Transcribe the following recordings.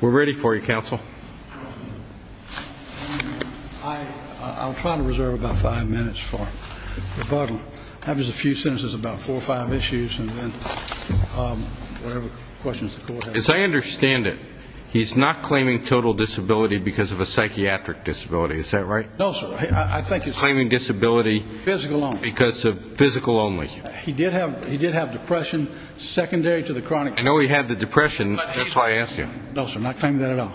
We're ready for you, Counsel. I'll try to reserve about five minutes for rebuttal. I have just a few sentences, about four or five issues, and then whatever questions the court has. As I understand it, he's not claiming total disability because of a psychiatric disability. Is that right? No, sir. I think he's claiming disability because of physical only. He did have depression secondary to the chronic condition. I know he had the depression. That's why I asked you. No, sir. Not claiming that at all.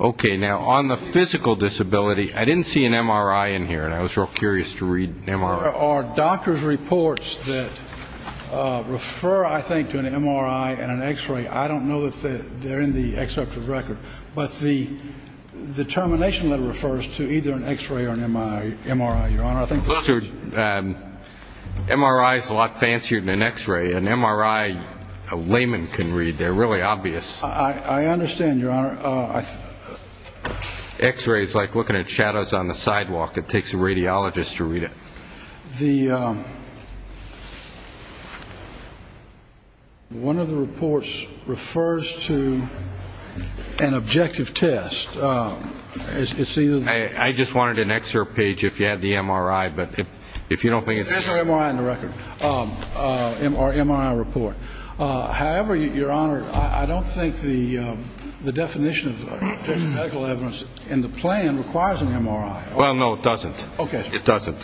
Okay. Now, on the physical disability, I didn't see an MRI in here, and I was real curious to read an MRI. There are doctor's reports that refer, I think, to an MRI and an X-ray. I don't know if they're in the executive record. But the termination letter refers to either an X-ray or an MRI, Your Honor. MRI is a lot fancier than an X-ray. An MRI, a layman can read. They're really obvious. I understand, Your Honor. X-ray is like looking at shadows on the sidewalk. It takes a radiologist to read it. One of the reports refers to an objective test. I just wanted an excerpt page if you had the MRI. There's no MRI in the record or MRI report. However, Your Honor, I don't think the definition of medical evidence in the plan requires an MRI. Well, no, it doesn't. Okay. It doesn't.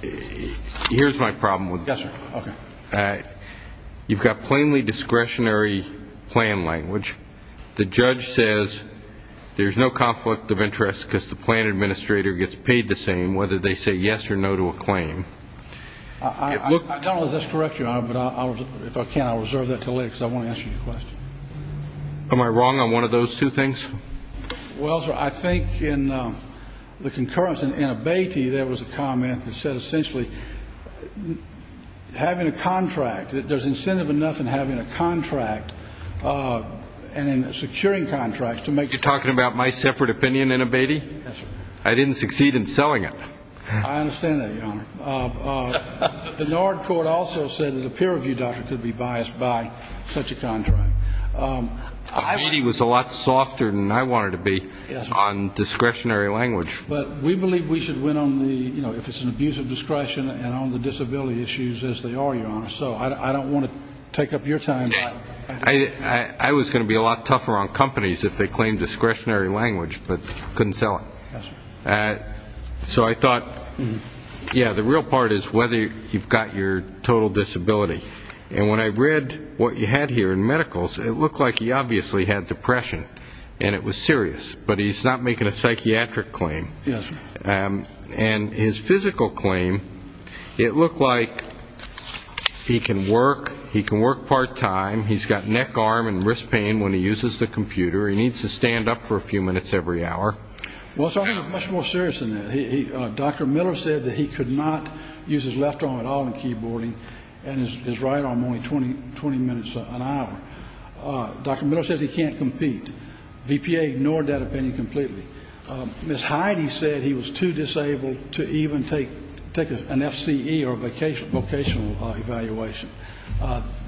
Here's my problem with this. Yes, sir. Okay. You've got plainly discretionary plan language. The judge says there's no conflict of interest because the plan administrator gets paid the same, whether they say yes or no to a claim. I don't know if that's correct, Your Honor, but if I can, I'll reserve that until later because I want to answer your question. Am I wrong on one of those two things? Well, sir, I think in the concurrence in Abatey, there was a comment that said essentially having a contract, that there's incentive enough in having a contract and in securing contracts to make the claim. You're talking about my separate opinion in Abatey? Yes, sir. I didn't succeed in selling it. I understand that, Your Honor. The NARD court also said that a peer review doctor could be biased by such a contract. Abatey was a lot softer than I wanted to be on discretionary language. But we believe we should win on the, you know, if it's an abuse of discretion and on the disability issues as they are, Your Honor. So I don't want to take up your time. I was going to be a lot tougher on companies if they claimed discretionary language but couldn't sell it. So I thought, yeah, the real part is whether you've got your total disability. And when I read what you had here in medicals, it looked like he obviously had depression and it was serious. But he's not making a psychiatric claim. Yes, sir. And his physical claim, it looked like he can work, he can work part-time, he's got neck, arm, and wrist pain when he uses the computer, he needs to stand up for a few minutes every hour. Well, sir, I think it's much more serious than that. Dr. Miller said that he could not use his left arm at all in keyboarding and his right arm only 20 minutes an hour. Dr. Miller says he can't compete. VPA ignored that opinion completely. Ms. Heide said he was too disabled to even take an FCE or vocational evaluation.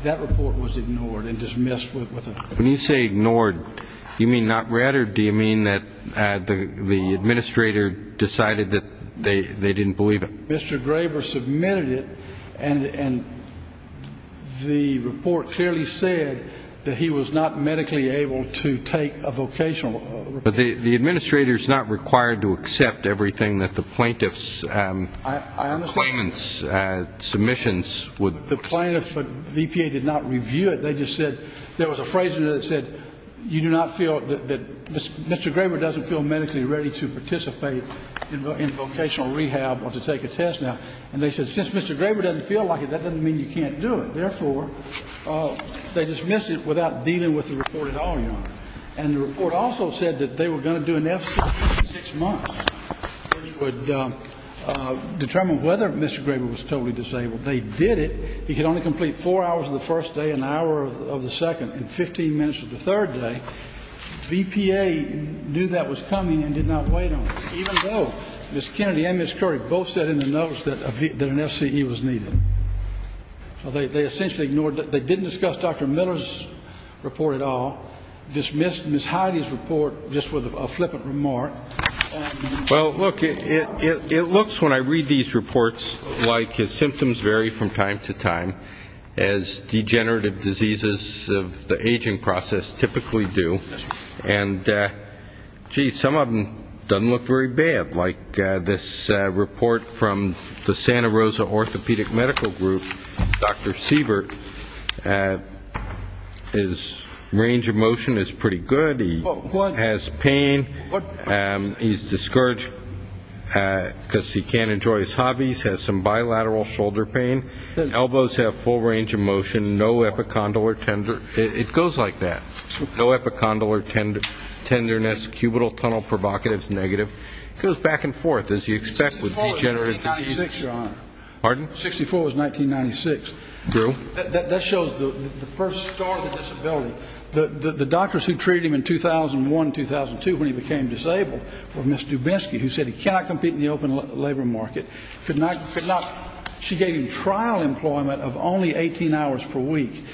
That report was ignored and dismissed with a. When you say ignored, do you mean not read or do you mean that the administrator decided that they didn't believe it? Mr. Graber submitted it, and the report clearly said that he was not medically able to take a vocational. But the administrator's not required to accept everything that the plaintiff's claimants' submissions would. The plaintiff, VPA, did not review it. They just said there was a phrase in it that said you do not feel that Mr. Graber doesn't feel medically ready to participate in vocational rehab or to take a test now. And they said since Mr. Graber doesn't feel like it, that doesn't mean you can't do it. Therefore, they dismissed it without dealing with the report at all, Your Honor. And the report also said that they were going to do an FCE in six months, which would determine whether Mr. Graber was totally disabled. They did it. He could only complete four hours of the first day, an hour of the second, and 15 minutes of the third day. VPA knew that was coming and did not wait on it, even though Ms. Kennedy and Ms. Lurie both said in the notice that an FCE was needed. So they essentially ignored it. They didn't discuss Dr. Miller's report at all, dismissed Ms. Heidi's report just with a flippant remark. Well, look, it looks when I read these reports like his symptoms vary from time to time, as degenerative diseases of the aging process typically do. And, gee, some of them don't look very bad. Like this report from the Santa Rosa Orthopedic Medical Group, Dr. Siebert, his range of motion is pretty good. He has pain. He's discouraged because he can't enjoy his hobbies, has some bilateral shoulder pain. Elbows have full range of motion, no epicondyle or tender. It goes like that. No epicondyle or tenderness. Cubital tunnel provocative is negative. It goes back and forth, as you'd expect with degenerative diseases. 64 was 1996, Your Honor. Pardon? 64 was 1996. Drew? That shows the first start of the disability. The doctors who treated him in 2001 and 2002 when he became disabled were Ms. Dubinsky, who said he cannot compete in the open labor market. She gave him trial employment of only 18 hours per week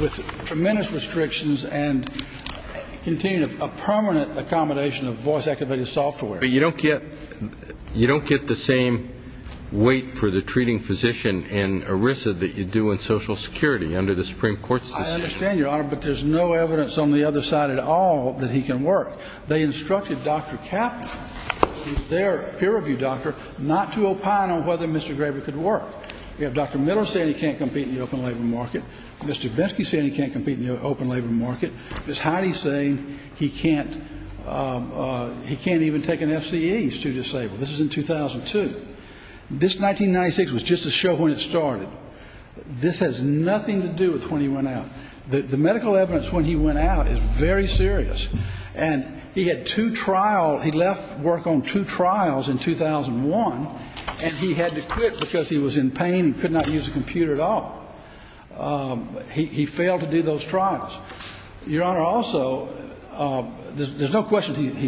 with tremendous restrictions and continued a permanent accommodation of voice-activated software. But you don't get the same weight for the treating physician in ERISA that you do in Social Security under the Supreme Court's decision. I understand, Your Honor, but there's no evidence on the other side at all that he can work. They instructed Dr. Kaplan, their peer review doctor, not to opine on whether Mr. Graber could work. We have Dr. Middle saying he can't compete in the open labor market. Mr. Dubinsky saying he can't compete in the open labor market. Ms. Heidi saying he can't even take an FCE, he's too disabled. This is in 2002. This 1996 was just a show when it started. This has nothing to do with when he went out. The medical evidence when he went out is very serious. And he had two trials. He left work on two trials in 2001, and he had to quit because he was in pain and could not use a computer at all. He failed to do those trials. Your Honor, also, there's no question he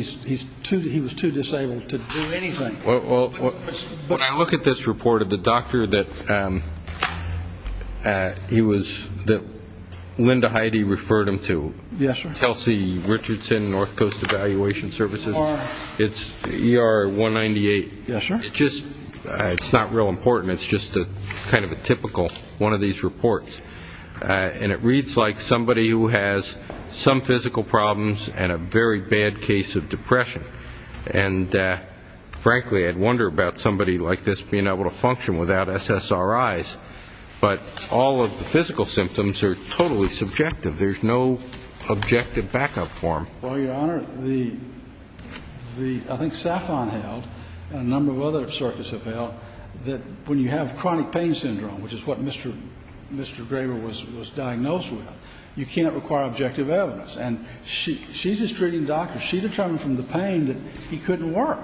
was too disabled to do anything. When I look at this report of the doctor that Linda Heidi referred him to, Chelsea Richardson, North Coast Evaluation Services, it's ER 198. Yes, sir. It's not real important. It's just kind of a typical one of these reports. And it reads like somebody who has some physical problems and a very bad case of depression. And, frankly, I'd wonder about somebody like this being able to function without SSRIs. But all of the physical symptoms are totally subjective. There's no objective backup form. Well, Your Honor, I think SAFON held, and a number of other circuits have held, that when you have chronic pain syndrome, which is what Mr. Graber was diagnosed with, you can't require objective evidence. And she's his treating doctor. She determined from the pain that he couldn't work.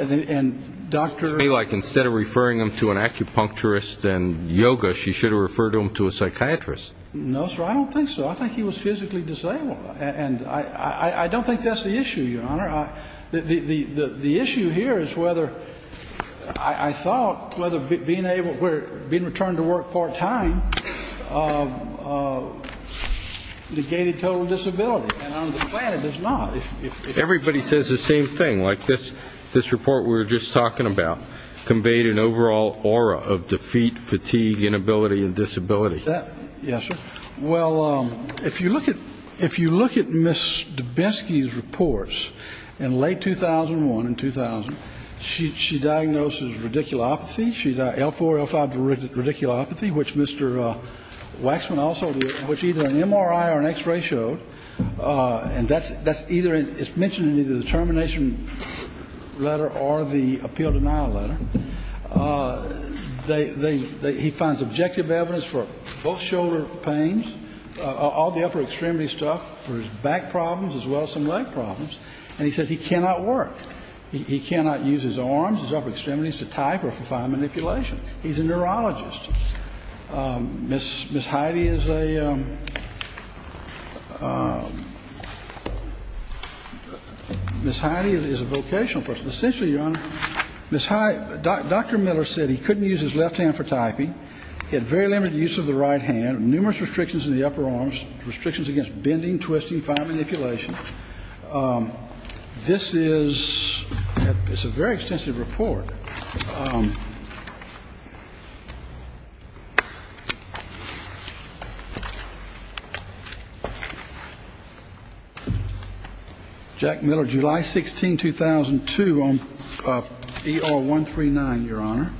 And Dr. It may be like instead of referring him to an acupuncturist and yoga, she should have referred him to a psychiatrist. No, sir, I don't think so. I think he was physically disabled. And I don't think that's the issue, Your Honor. The issue here is whether I thought whether being returned to work part-time negated total disability. And on the planet, it's not. Everybody says the same thing. Like this report we were just talking about conveyed an overall aura of defeat, fatigue, inability, and disability. Yes, sir. Well, if you look at Ms. DeBesky's reports in late 2001 and 2000, she diagnoses radiculopathy. She's L4, L5 radiculopathy, which Mr. Waxman also did, which either an MRI or an X-ray showed. And that's either it's mentioned in either the termination letter or the appeal denial letter. He finds objective evidence for both shoulder pains, all the upper extremity stuff, for his back problems as well as some leg problems. And he says he cannot work. He cannot use his arms, his upper extremities to type or for fine manipulation. He's a neurologist. Ms. Heidi is a vocational person. Well, essentially, Your Honor, Dr. Miller said he couldn't use his left hand for typing. He had very limited use of the right hand, numerous restrictions in the upper arms, restrictions against bending, twisting, fine manipulation. This is a very extensive report. Jack Miller, July 16, 2002 on ER139, Your Honor.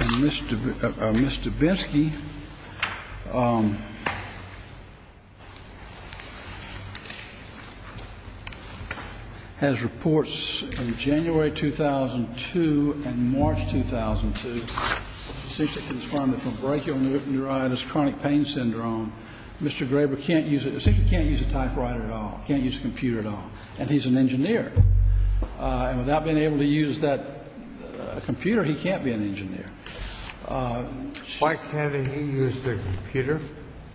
And Mr. Binsky has reports in January 2002 and March 2002, since he was found with a brachial neuritis, chronic pain syndrome. Mr. Graber can't use it, essentially can't use a typewriter at all, can't use a computer at all. And he's an engineer. And without being able to use that computer, he can't be an engineer. Why can't he use the computer?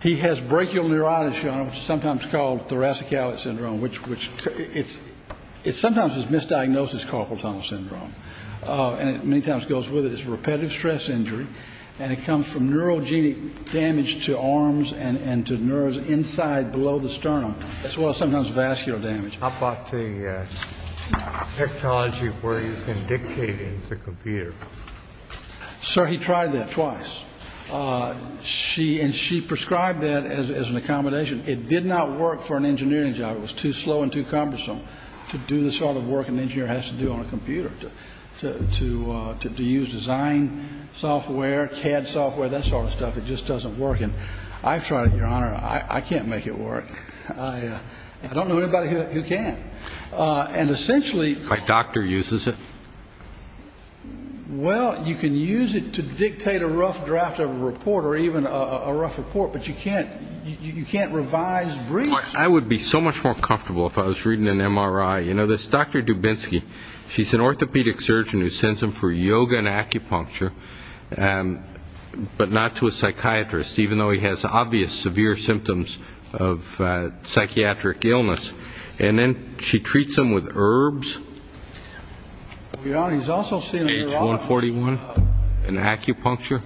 He has brachial neuritis, Your Honor, which is sometimes called thoracicalis syndrome, which it's sometimes misdiagnosed as carpal tunnel syndrome. And it many times goes with it. It's repetitive stress injury. And it comes from neurogenic damage to arms and to nerves inside below the sternum, as well as sometimes vascular damage. How about the technology where you can dictate into the computer? Sir, he tried that twice. And she prescribed that as an accommodation. It did not work for an engineering job. It was too slow and too cumbersome to do the sort of work an engineer has to do on a computer, to use design software, CAD software, that sort of stuff. It just doesn't work. And I've tried it, Your Honor. I can't make it work. I don't know anybody who can. And essentially my doctor uses it. Well, you can use it to dictate a rough draft of a report or even a rough report, but you can't revise briefs. I would be so much more comfortable if I was reading an MRI. You know, this Dr. Dubinsky, she's an orthopedic surgeon who sends him for yoga and acupuncture, but not to a psychiatrist, even though he has obvious severe symptoms of psychiatric illness. And then she treats him with herbs. Your Honor, he's also seen a neurologist. Age 141 and acupuncture.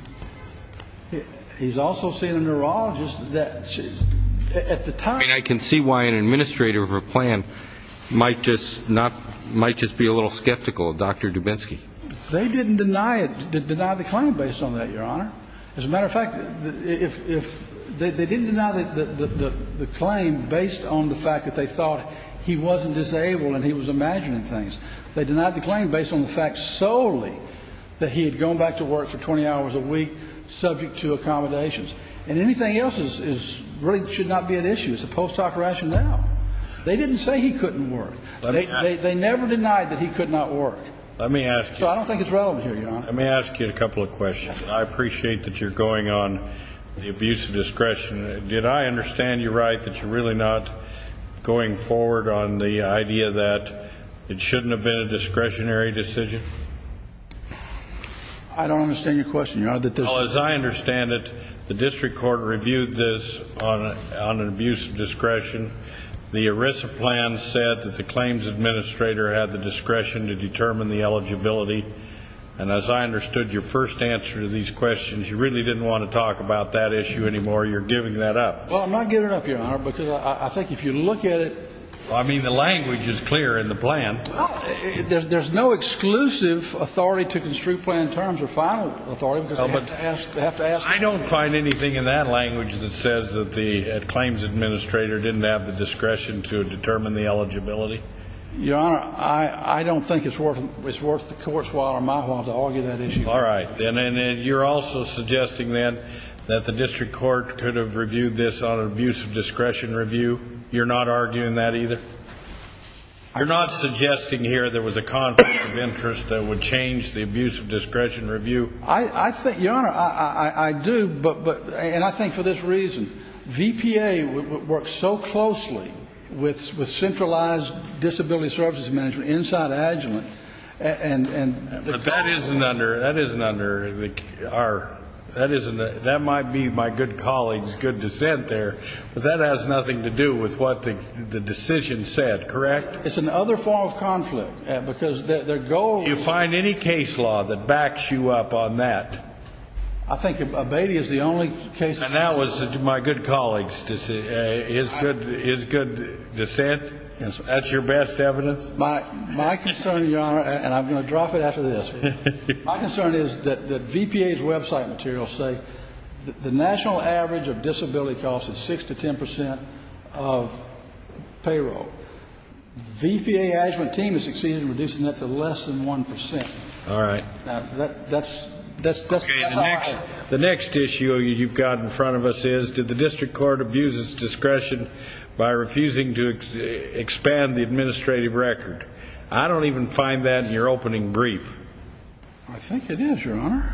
He's also seen a neurologist at the time. I mean, I can see why an administrator of a plan might just be a little skeptical of Dr. Dubinsky. They didn't deny the claim based on that, Your Honor. As a matter of fact, they didn't deny the claim based on the fact that they thought he wasn't disabled and he was imagining things. They denied the claim based on the fact solely that he had gone back to work for 20 hours a week subject to accommodations. And anything else really should not be an issue. It's a post hoc rationale. They didn't say he couldn't work. They never denied that he could not work. Let me ask you. So I don't think it's relevant here, Your Honor. Let me ask you a couple of questions. I appreciate that you're going on the abuse of discretion. Did I understand you right that you're really not going forward on the idea that it shouldn't have been a discretionary decision? I don't understand your question, Your Honor. Well, as I understand it, the district court reviewed this on an abuse of discretion. The ERISA plan said that the claims administrator had the discretion to determine the eligibility. And as I understood your first answer to these questions, you really didn't want to talk about that issue anymore. You're giving that up. Well, I'm not giving it up, Your Honor, because I think if you look at it. I mean, the language is clear in the plan. There's no exclusive authority to construe plan in terms of final authority because they have to ask. I don't find anything in that language that says that the claims administrator didn't have the discretion to determine the eligibility. Your Honor, I don't think it's worth the court's while or my while to argue that issue. All right. And you're also suggesting, then, that the district court could have reviewed this on an abuse of discretion review? You're not arguing that either? You're not suggesting here there was a conflict of interest that would change the abuse of discretion review? I think, Your Honor, I do. And I think for this reason. VPA works so closely with centralized disability services management inside Agilent. But that isn't under our. That might be my good colleague's good dissent there. But that has nothing to do with what the decision said, correct? It's another form of conflict because their goal. Do you find any case law that backs you up on that? I think abating is the only case. And that was my good colleague's good dissent. That's your best evidence? My concern, Your Honor, and I'm going to drop it after this. My concern is that VPA's website materials say the national average of disability costs is 6% to 10% of payroll. The VPA Agilent team has succeeded in reducing that to less than 1%. All right. Now, that's. The next issue you've got in front of us is did the district court abuse its discretion by refusing to expand the administrative record? I don't even find that in your opening brief. I think it is, Your Honor.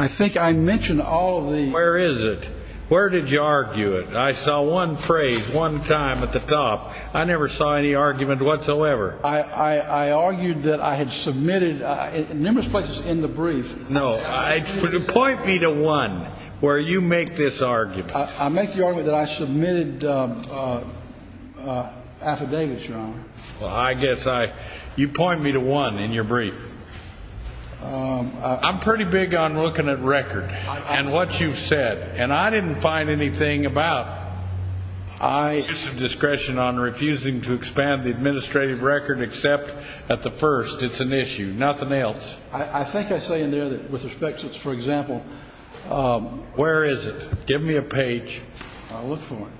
I think I mentioned all of the. Where is it? Where did you argue it? I saw one phrase one time at the top. I never saw any argument whatsoever. I argued that I had submitted numerous places in the brief. No. Point me to one where you make this argument. I make the argument that I submitted affidavits, Your Honor. Well, I guess you point me to one in your brief. I'm pretty big on looking at record and what you've said. And I didn't find anything about abuse of discretion on refusing to expand the administrative record except at the first. It's an issue. Nothing else. I think I say in there that with respect to, for example. Where is it? Give me a page. I'll look for it.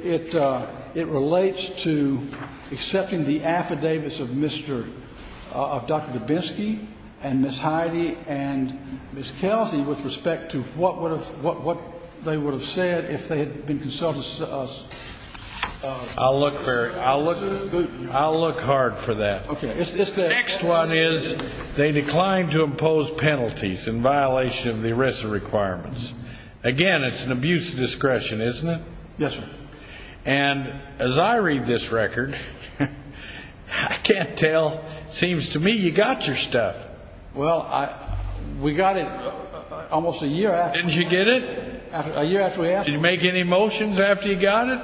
It relates to accepting the affidavits of Dr. Dubinsky and Ms. Heidi and Ms. Kelsey with respect to what they would have said if they had been consulted. I'll look hard for that. Okay. Next one is they declined to impose penalties in violation of the ERISA requirements. Again, it's an abuse of discretion, isn't it? Yes, sir. And as I read this record, I can't tell. It seems to me you got your stuff. Well, we got it almost a year after. Didn't you get it? A year after we asked. Did you make any motions after you got it?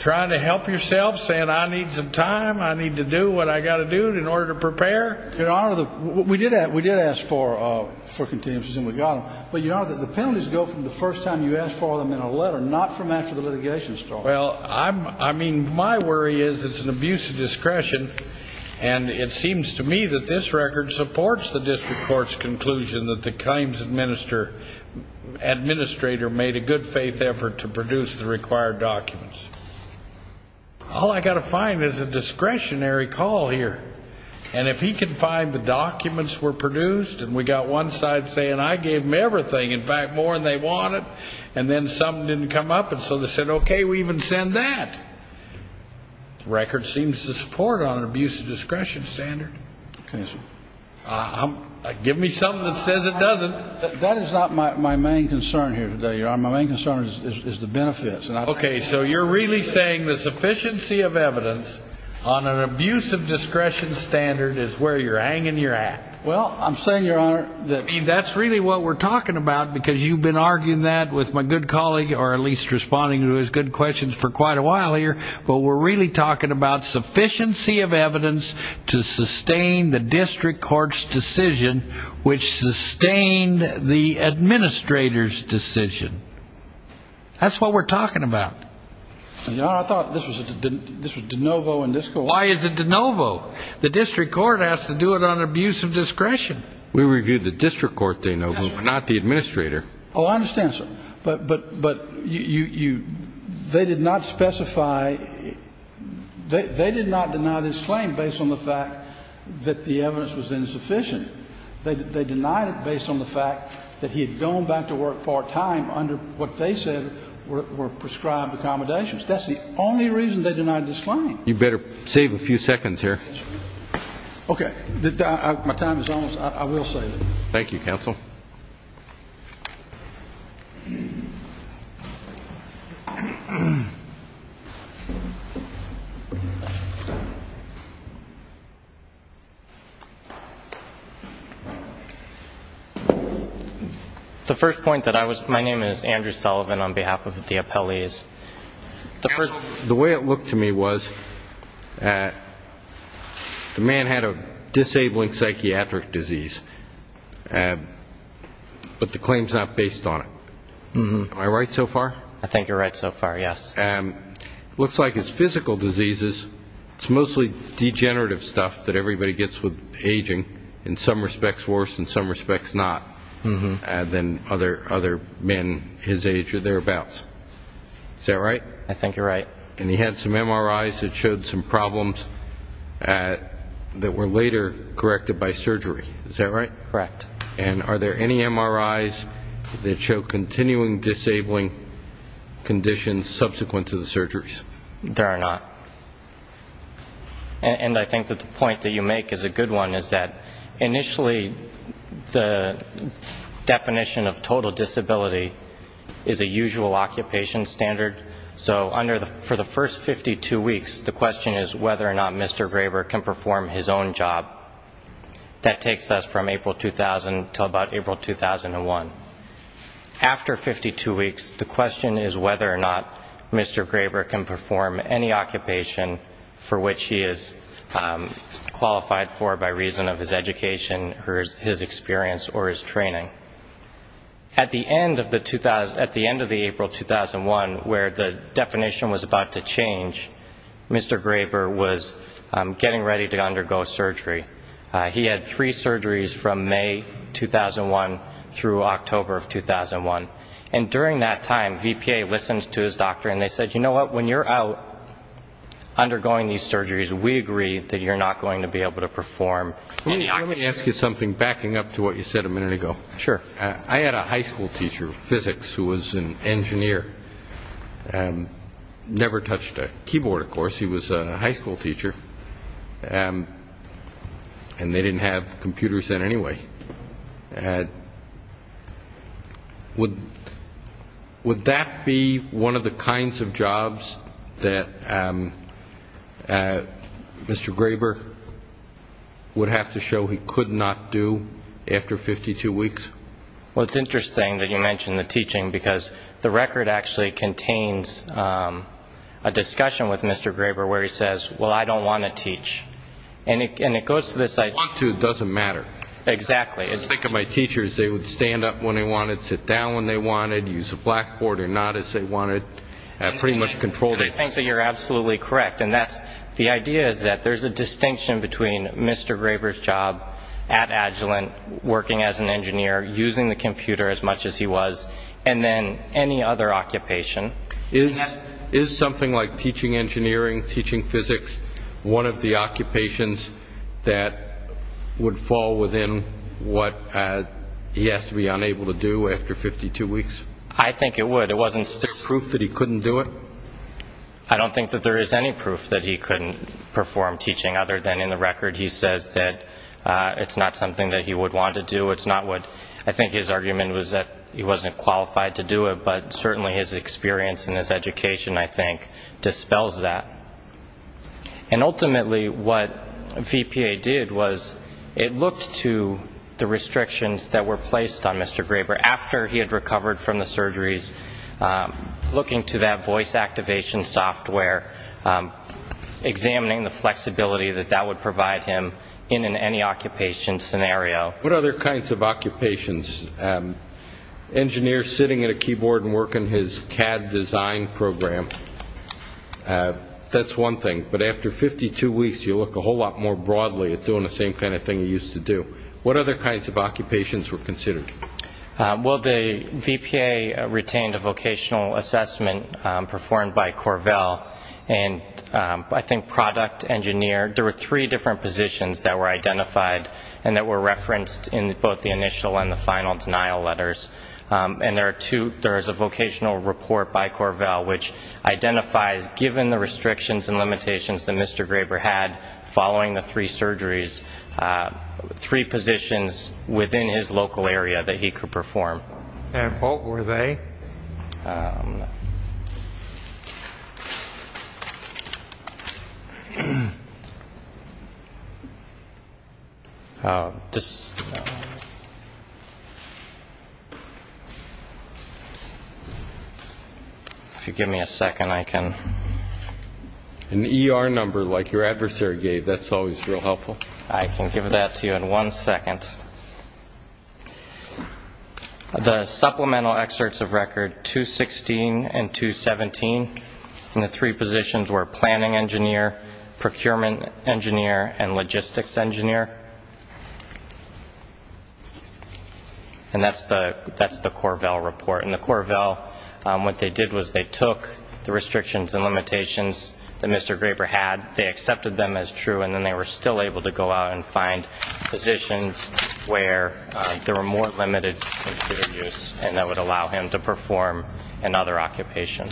Trying to help yourself, saying I need some time, I need to do what I've got to do in order to prepare? Your Honor, we did ask for continuances, and we got them. But, Your Honor, the penalties go from the first time you ask for them in a letter, not from after the litigation started. Well, I mean, my worry is it's an abuse of discretion. And it seems to me that this record supports the district court's conclusion that the claims administrator made a good faith effort to produce the required documents. All I've got to find is a discretionary call here. And if he can find the documents were produced, and we've got one side saying I gave them everything, in fact, more than they wanted, and then something didn't come up, and so they said, okay, we even send that. The record seems to support it on an abuse of discretion standard. Give me something that says it doesn't. That is not my main concern here today, Your Honor. My main concern is the benefits. Okay, so you're really saying the sufficiency of evidence on an abuse of discretion standard is where you're hanging your hat? Well, I'm saying, Your Honor, that's really what we're talking about, because you've been arguing that with my good colleague, or at least responding to his good questions for quite a while here. But we're really talking about sufficiency of evidence to sustain the district court's decision, which sustained the administrator's decision. That's what we're talking about. Your Honor, I thought this was de novo in this court. Why is it de novo? The district court has to do it on an abuse of discretion. We reviewed the district court, de novo, not the administrator. Oh, I understand, sir. But they did not specify they did not deny this claim based on the fact that the evidence was insufficient. They denied it based on the fact that he had gone back to work part-time under what they said were prescribed accommodations. That's the only reason they denied this claim. You better save a few seconds here. Okay. My time is almost up. I will save it. Thank you, counsel. The first point that I was my name is Andrew Sullivan on behalf of the appellees. Counsel, the way it looked to me was the man had a disabling psychiatric disease, but the claim is not based on it. Am I right so far? I think you're right so far, yes. It looks like it's physical diseases. It's mostly degenerative stuff that everybody gets with aging, in some respects worse, in some respects not, than other men his age or thereabouts. Is that right? I think you're right. And he had some MRIs that showed some problems that were later corrected by surgery. Is that right? Correct. And are there any MRIs that show continuing disabling conditions subsequent to the surgeries? There are not. And I think that the point that you make is a good one, is that initially the definition of total disability is a usual occupation standard. So for the first 52 weeks, the question is whether or not Mr. Graber can perform his own job. That takes us from April 2000 until about April 2001. After 52 weeks, the question is whether or not Mr. Graber can perform any occupation for which he is qualified for by reason of his education or his experience or his training. At the end of the April 2001, where the definition was about to change, Mr. Graber was getting ready to undergo surgery. He had three surgeries from May 2001 through October of 2001. And during that time, VPA listened to his doctor and they said, you know what, when you're out undergoing these surgeries, we agree that you're not going to be able to perform any occupation. Let me ask you something backing up to what you said a minute ago. Sure. I had a high school teacher of physics who was an engineer, never touched a keyboard, of course. She was a high school teacher. And they didn't have computers then anyway. Would that be one of the kinds of jobs that Mr. Graber would have to show he could not do after 52 weeks? Well, it's interesting that you mention the teaching, because the record actually contains a discussion with Mr. Graber where he says, well, I don't want to teach. And it goes to this idea. If you want to, it doesn't matter. Exactly. I think of my teachers, they would stand up when they wanted, sit down when they wanted, use a blackboard or not as they wanted, pretty much control. I think that you're absolutely correct. And the idea is that there's a distinction between Mr. Graber's job at Agilent, working as an engineer, using the computer as much as he was, and then any other occupation. Is something like teaching engineering, teaching physics, one of the occupations that would fall within what he has to be unable to do after 52 weeks? I think it would. Is there proof that he couldn't do it? I don't think that there is any proof that he couldn't perform teaching other than in the record. He says that it's not something that he would want to do. I think his argument was that he wasn't qualified to do it, but certainly his experience and his education, I think, dispels that. And ultimately what VPA did was it looked to the restrictions that were placed on Mr. Graber after he had recovered from the surgeries, looking to that voice activation software, examining the flexibility that that would provide him in any occupation scenario. What other kinds of occupations? Engineer sitting at a keyboard and working his CAD design program, that's one thing. But after 52 weeks, you look a whole lot more broadly at doing the same kind of thing he used to do. What other kinds of occupations were considered? Well, the VPA retained a vocational assessment performed by Corvell, and I think product engineer. There were three different positions that were identified and that were referenced in both the initial and the final denial letters. And there is a vocational report by Corvell which identifies, given the restrictions and limitations that Mr. Graber had following the three surgeries, three positions within his local area that he could perform. And what were they? If you give me a second, I can. An ER number like your adversary gave, that's always real helpful. I can give that to you in one second. The supplemental excerpts of record 216 and 217, and the three positions were planning engineer, procurement engineer, and logistics engineer. And that's the Corvell report. And the Corvell, what they did was they took the restrictions and limitations that Mr. Graber had, they accepted them as true, and then they were still able to go out and find positions where there were more limited computer use and that would allow him to perform another occupation.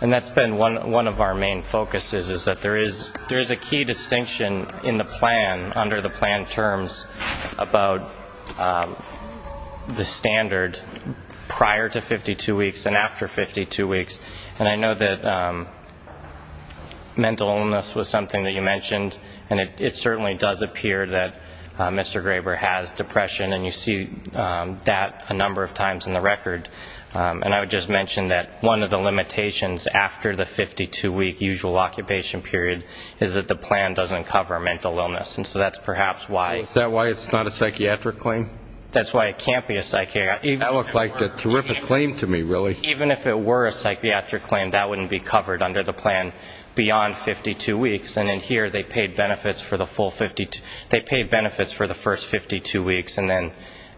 And that's been one of our main focuses, is that there is a key distinction in the plan under the plan terms about the standard prior to 52 weeks and after 52 weeks. And I know that mental illness was something that you mentioned, and it certainly does appear that Mr. Graber has depression, and you see that a number of times in the record. And I would just mention that one of the limitations after the 52-week usual occupation period is that the plan doesn't cover mental illness, and so that's perhaps why. Is that why it's not a psychiatric claim? That's why it can't be a psychiatric claim. That looked like a terrific claim to me, really. Even if it were a psychiatric claim, that wouldn't be covered under the plan beyond 52 weeks. And in here, they paid benefits for the first 52 weeks and then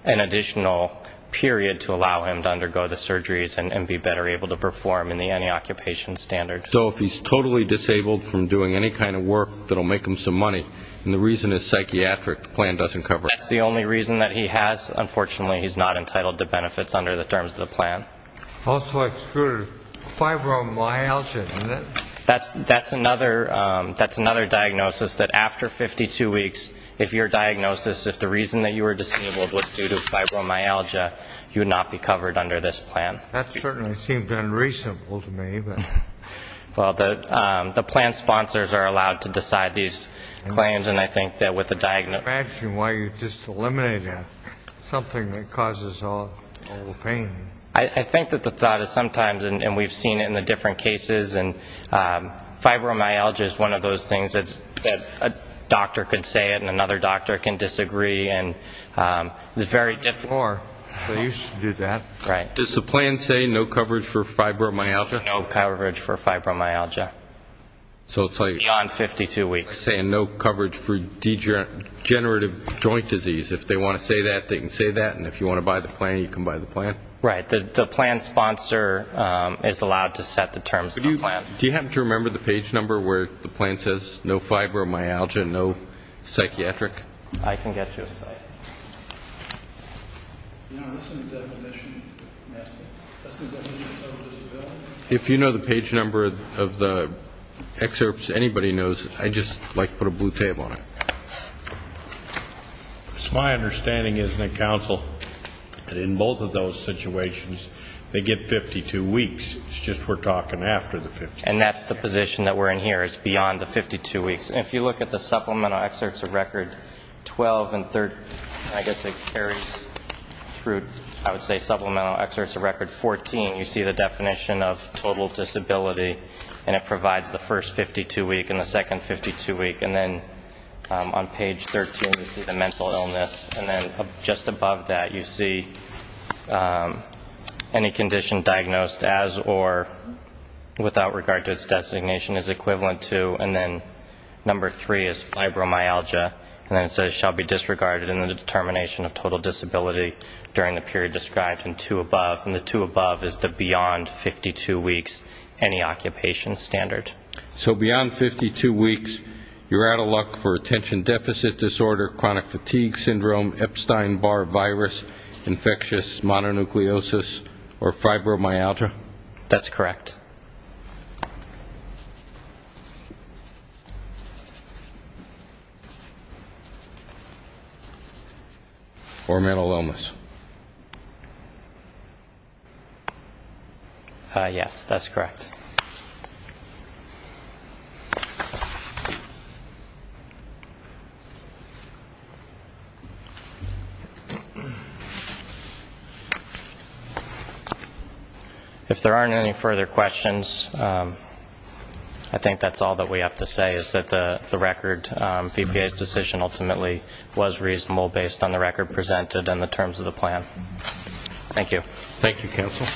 an additional period to allow him to undergo the surgeries and be better able to perform in the anti-occupation standard. So if he's totally disabled from doing any kind of work that will make him some money, and the reason is psychiatric, the plan doesn't cover it. That's the only reason that he has. Unfortunately, he's not entitled to benefits under the terms of the plan. Also excluded fibromyalgia. That's another diagnosis, that after 52 weeks, if your diagnosis, if the reason that you were disabled was due to fibromyalgia, you would not be covered under this plan. That certainly seemed unreasonable to me. Well, the plan sponsors are allowed to decide these claims, and I think that with a diagnosis. Imagine why you just eliminated something that causes all the pain. I think that the thought is sometimes, and we've seen it in the different cases, and fibromyalgia is one of those things that a doctor could say it and another doctor can disagree, and it's very difficult. They used to do that. Does the plan say no coverage for fibromyalgia? No coverage for fibromyalgia beyond 52 weeks. It's saying no coverage for degenerative joint disease. If they want to say that, they can say that, and if you want to buy the plan, you can buy the plan. Right. The plan sponsor is allowed to set the terms of the plan. Do you happen to remember the page number where the plan says no fibromyalgia, no psychiatric? I can get you a cite. If you know the page number of the excerpts, anybody knows, I'd just like to put a blue tape on it. It's my understanding, isn't it, counsel, that in both of those situations, they get 52 weeks. It's just we're talking after the 52 weeks. And that's the position that we're in here is beyond the 52 weeks. If you look at the supplemental excerpts of record 12 and I guess it carries through, I would say supplemental excerpts of record 14, you see the definition of total disability, and it provides the first 52 week and the second 52 week. And then on page 13, you see the mental illness. And then just above that, you see any condition diagnosed as or without regard to its designation is equivalent to. And then number three is fibromyalgia. And then it says shall be disregarded in the determination of total disability during the period described in two above. And the two above is the beyond 52 weeks, any occupation standard. So beyond 52 weeks, you're out of luck for attention deficit disorder, chronic fatigue syndrome, Epstein-Barr virus, infectious mononucleosis, or fibromyalgia? That's correct. Or mental illness? Yes, that's correct. Thank you. If there aren't any further questions, I think that's all that we have to say is that the record, VPA's decision ultimately was reasonable based on the record presented and the terms of the plan. Thank you. Thank you, counsel.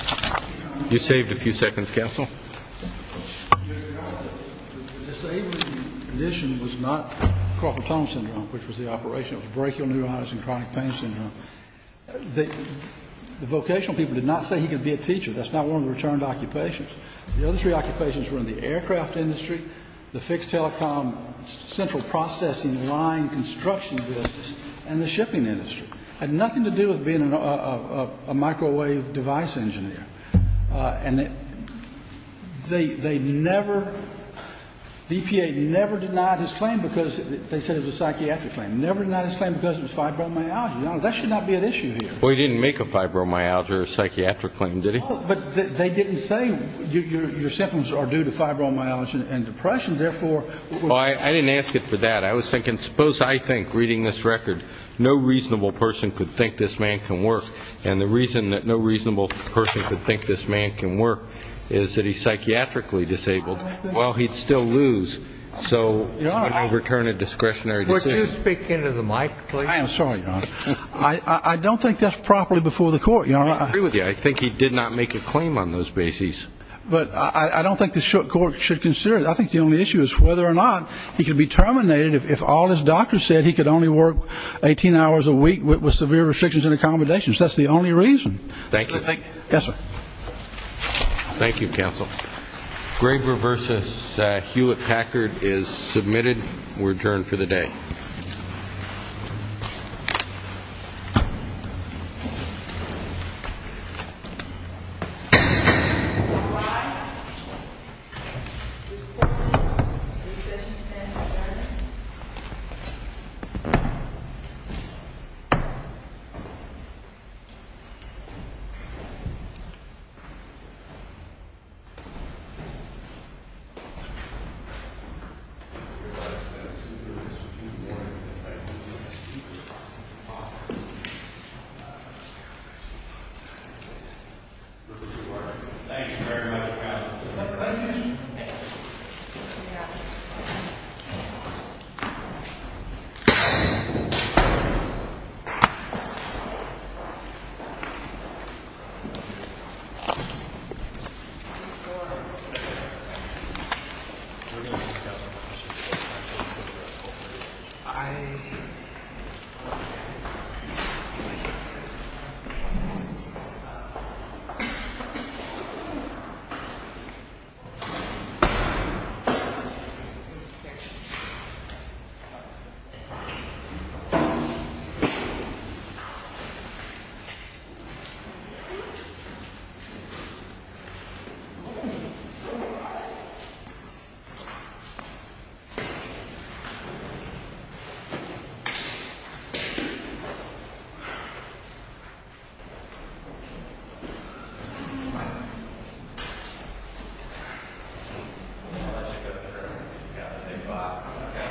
You saved a few seconds, counsel. The disabling condition was not carpal tunnel syndrome, which was the operation. It was brachial neuritis and chronic pain syndrome. The vocational people did not say he could be a teacher. That's not one of the returned occupations. The other three occupations were in the aircraft industry, the fixed telecom, central processing line, construction business, and the shipping industry. It had nothing to do with being a microwave device engineer. And they never, VPA never denied his claim because they said it was a psychiatric claim. Never denied his claim because it was fibromyalgia. That should not be an issue here. Well, he didn't make a fibromyalgia or a psychiatric claim, did he? No, but they didn't say your symptoms are due to fibromyalgia and depression, therefore we're going to Well, I didn't ask it for that. I was thinking, suppose I think, reading this record, no reasonable person could think this man can work. And the reason that no reasonable person could think this man can work is that he's psychiatrically disabled. Well, he'd still lose. So I'm going to return a discretionary decision. Would you speak into the mic, please? I am sorry, Your Honor. I don't think that's properly before the court, Your Honor. I agree with you. I think he did not make a claim on those bases. But I don't think the court should consider it. I think the only issue is whether or not he could be terminated if all his doctors said he could only work 18 hours a week with severe restrictions and accommodations. That's the only reason. Thank you. Yes, sir. Thank you, counsel. Graber v. Hewlett-Packard is submitted. We're adjourned for the day. Any questions of counsel, Your Honor? Thank you very much, counsel. Thank you. Thank you. I'm going to let you go through. You've got a big box. I've got to get myself some wheels.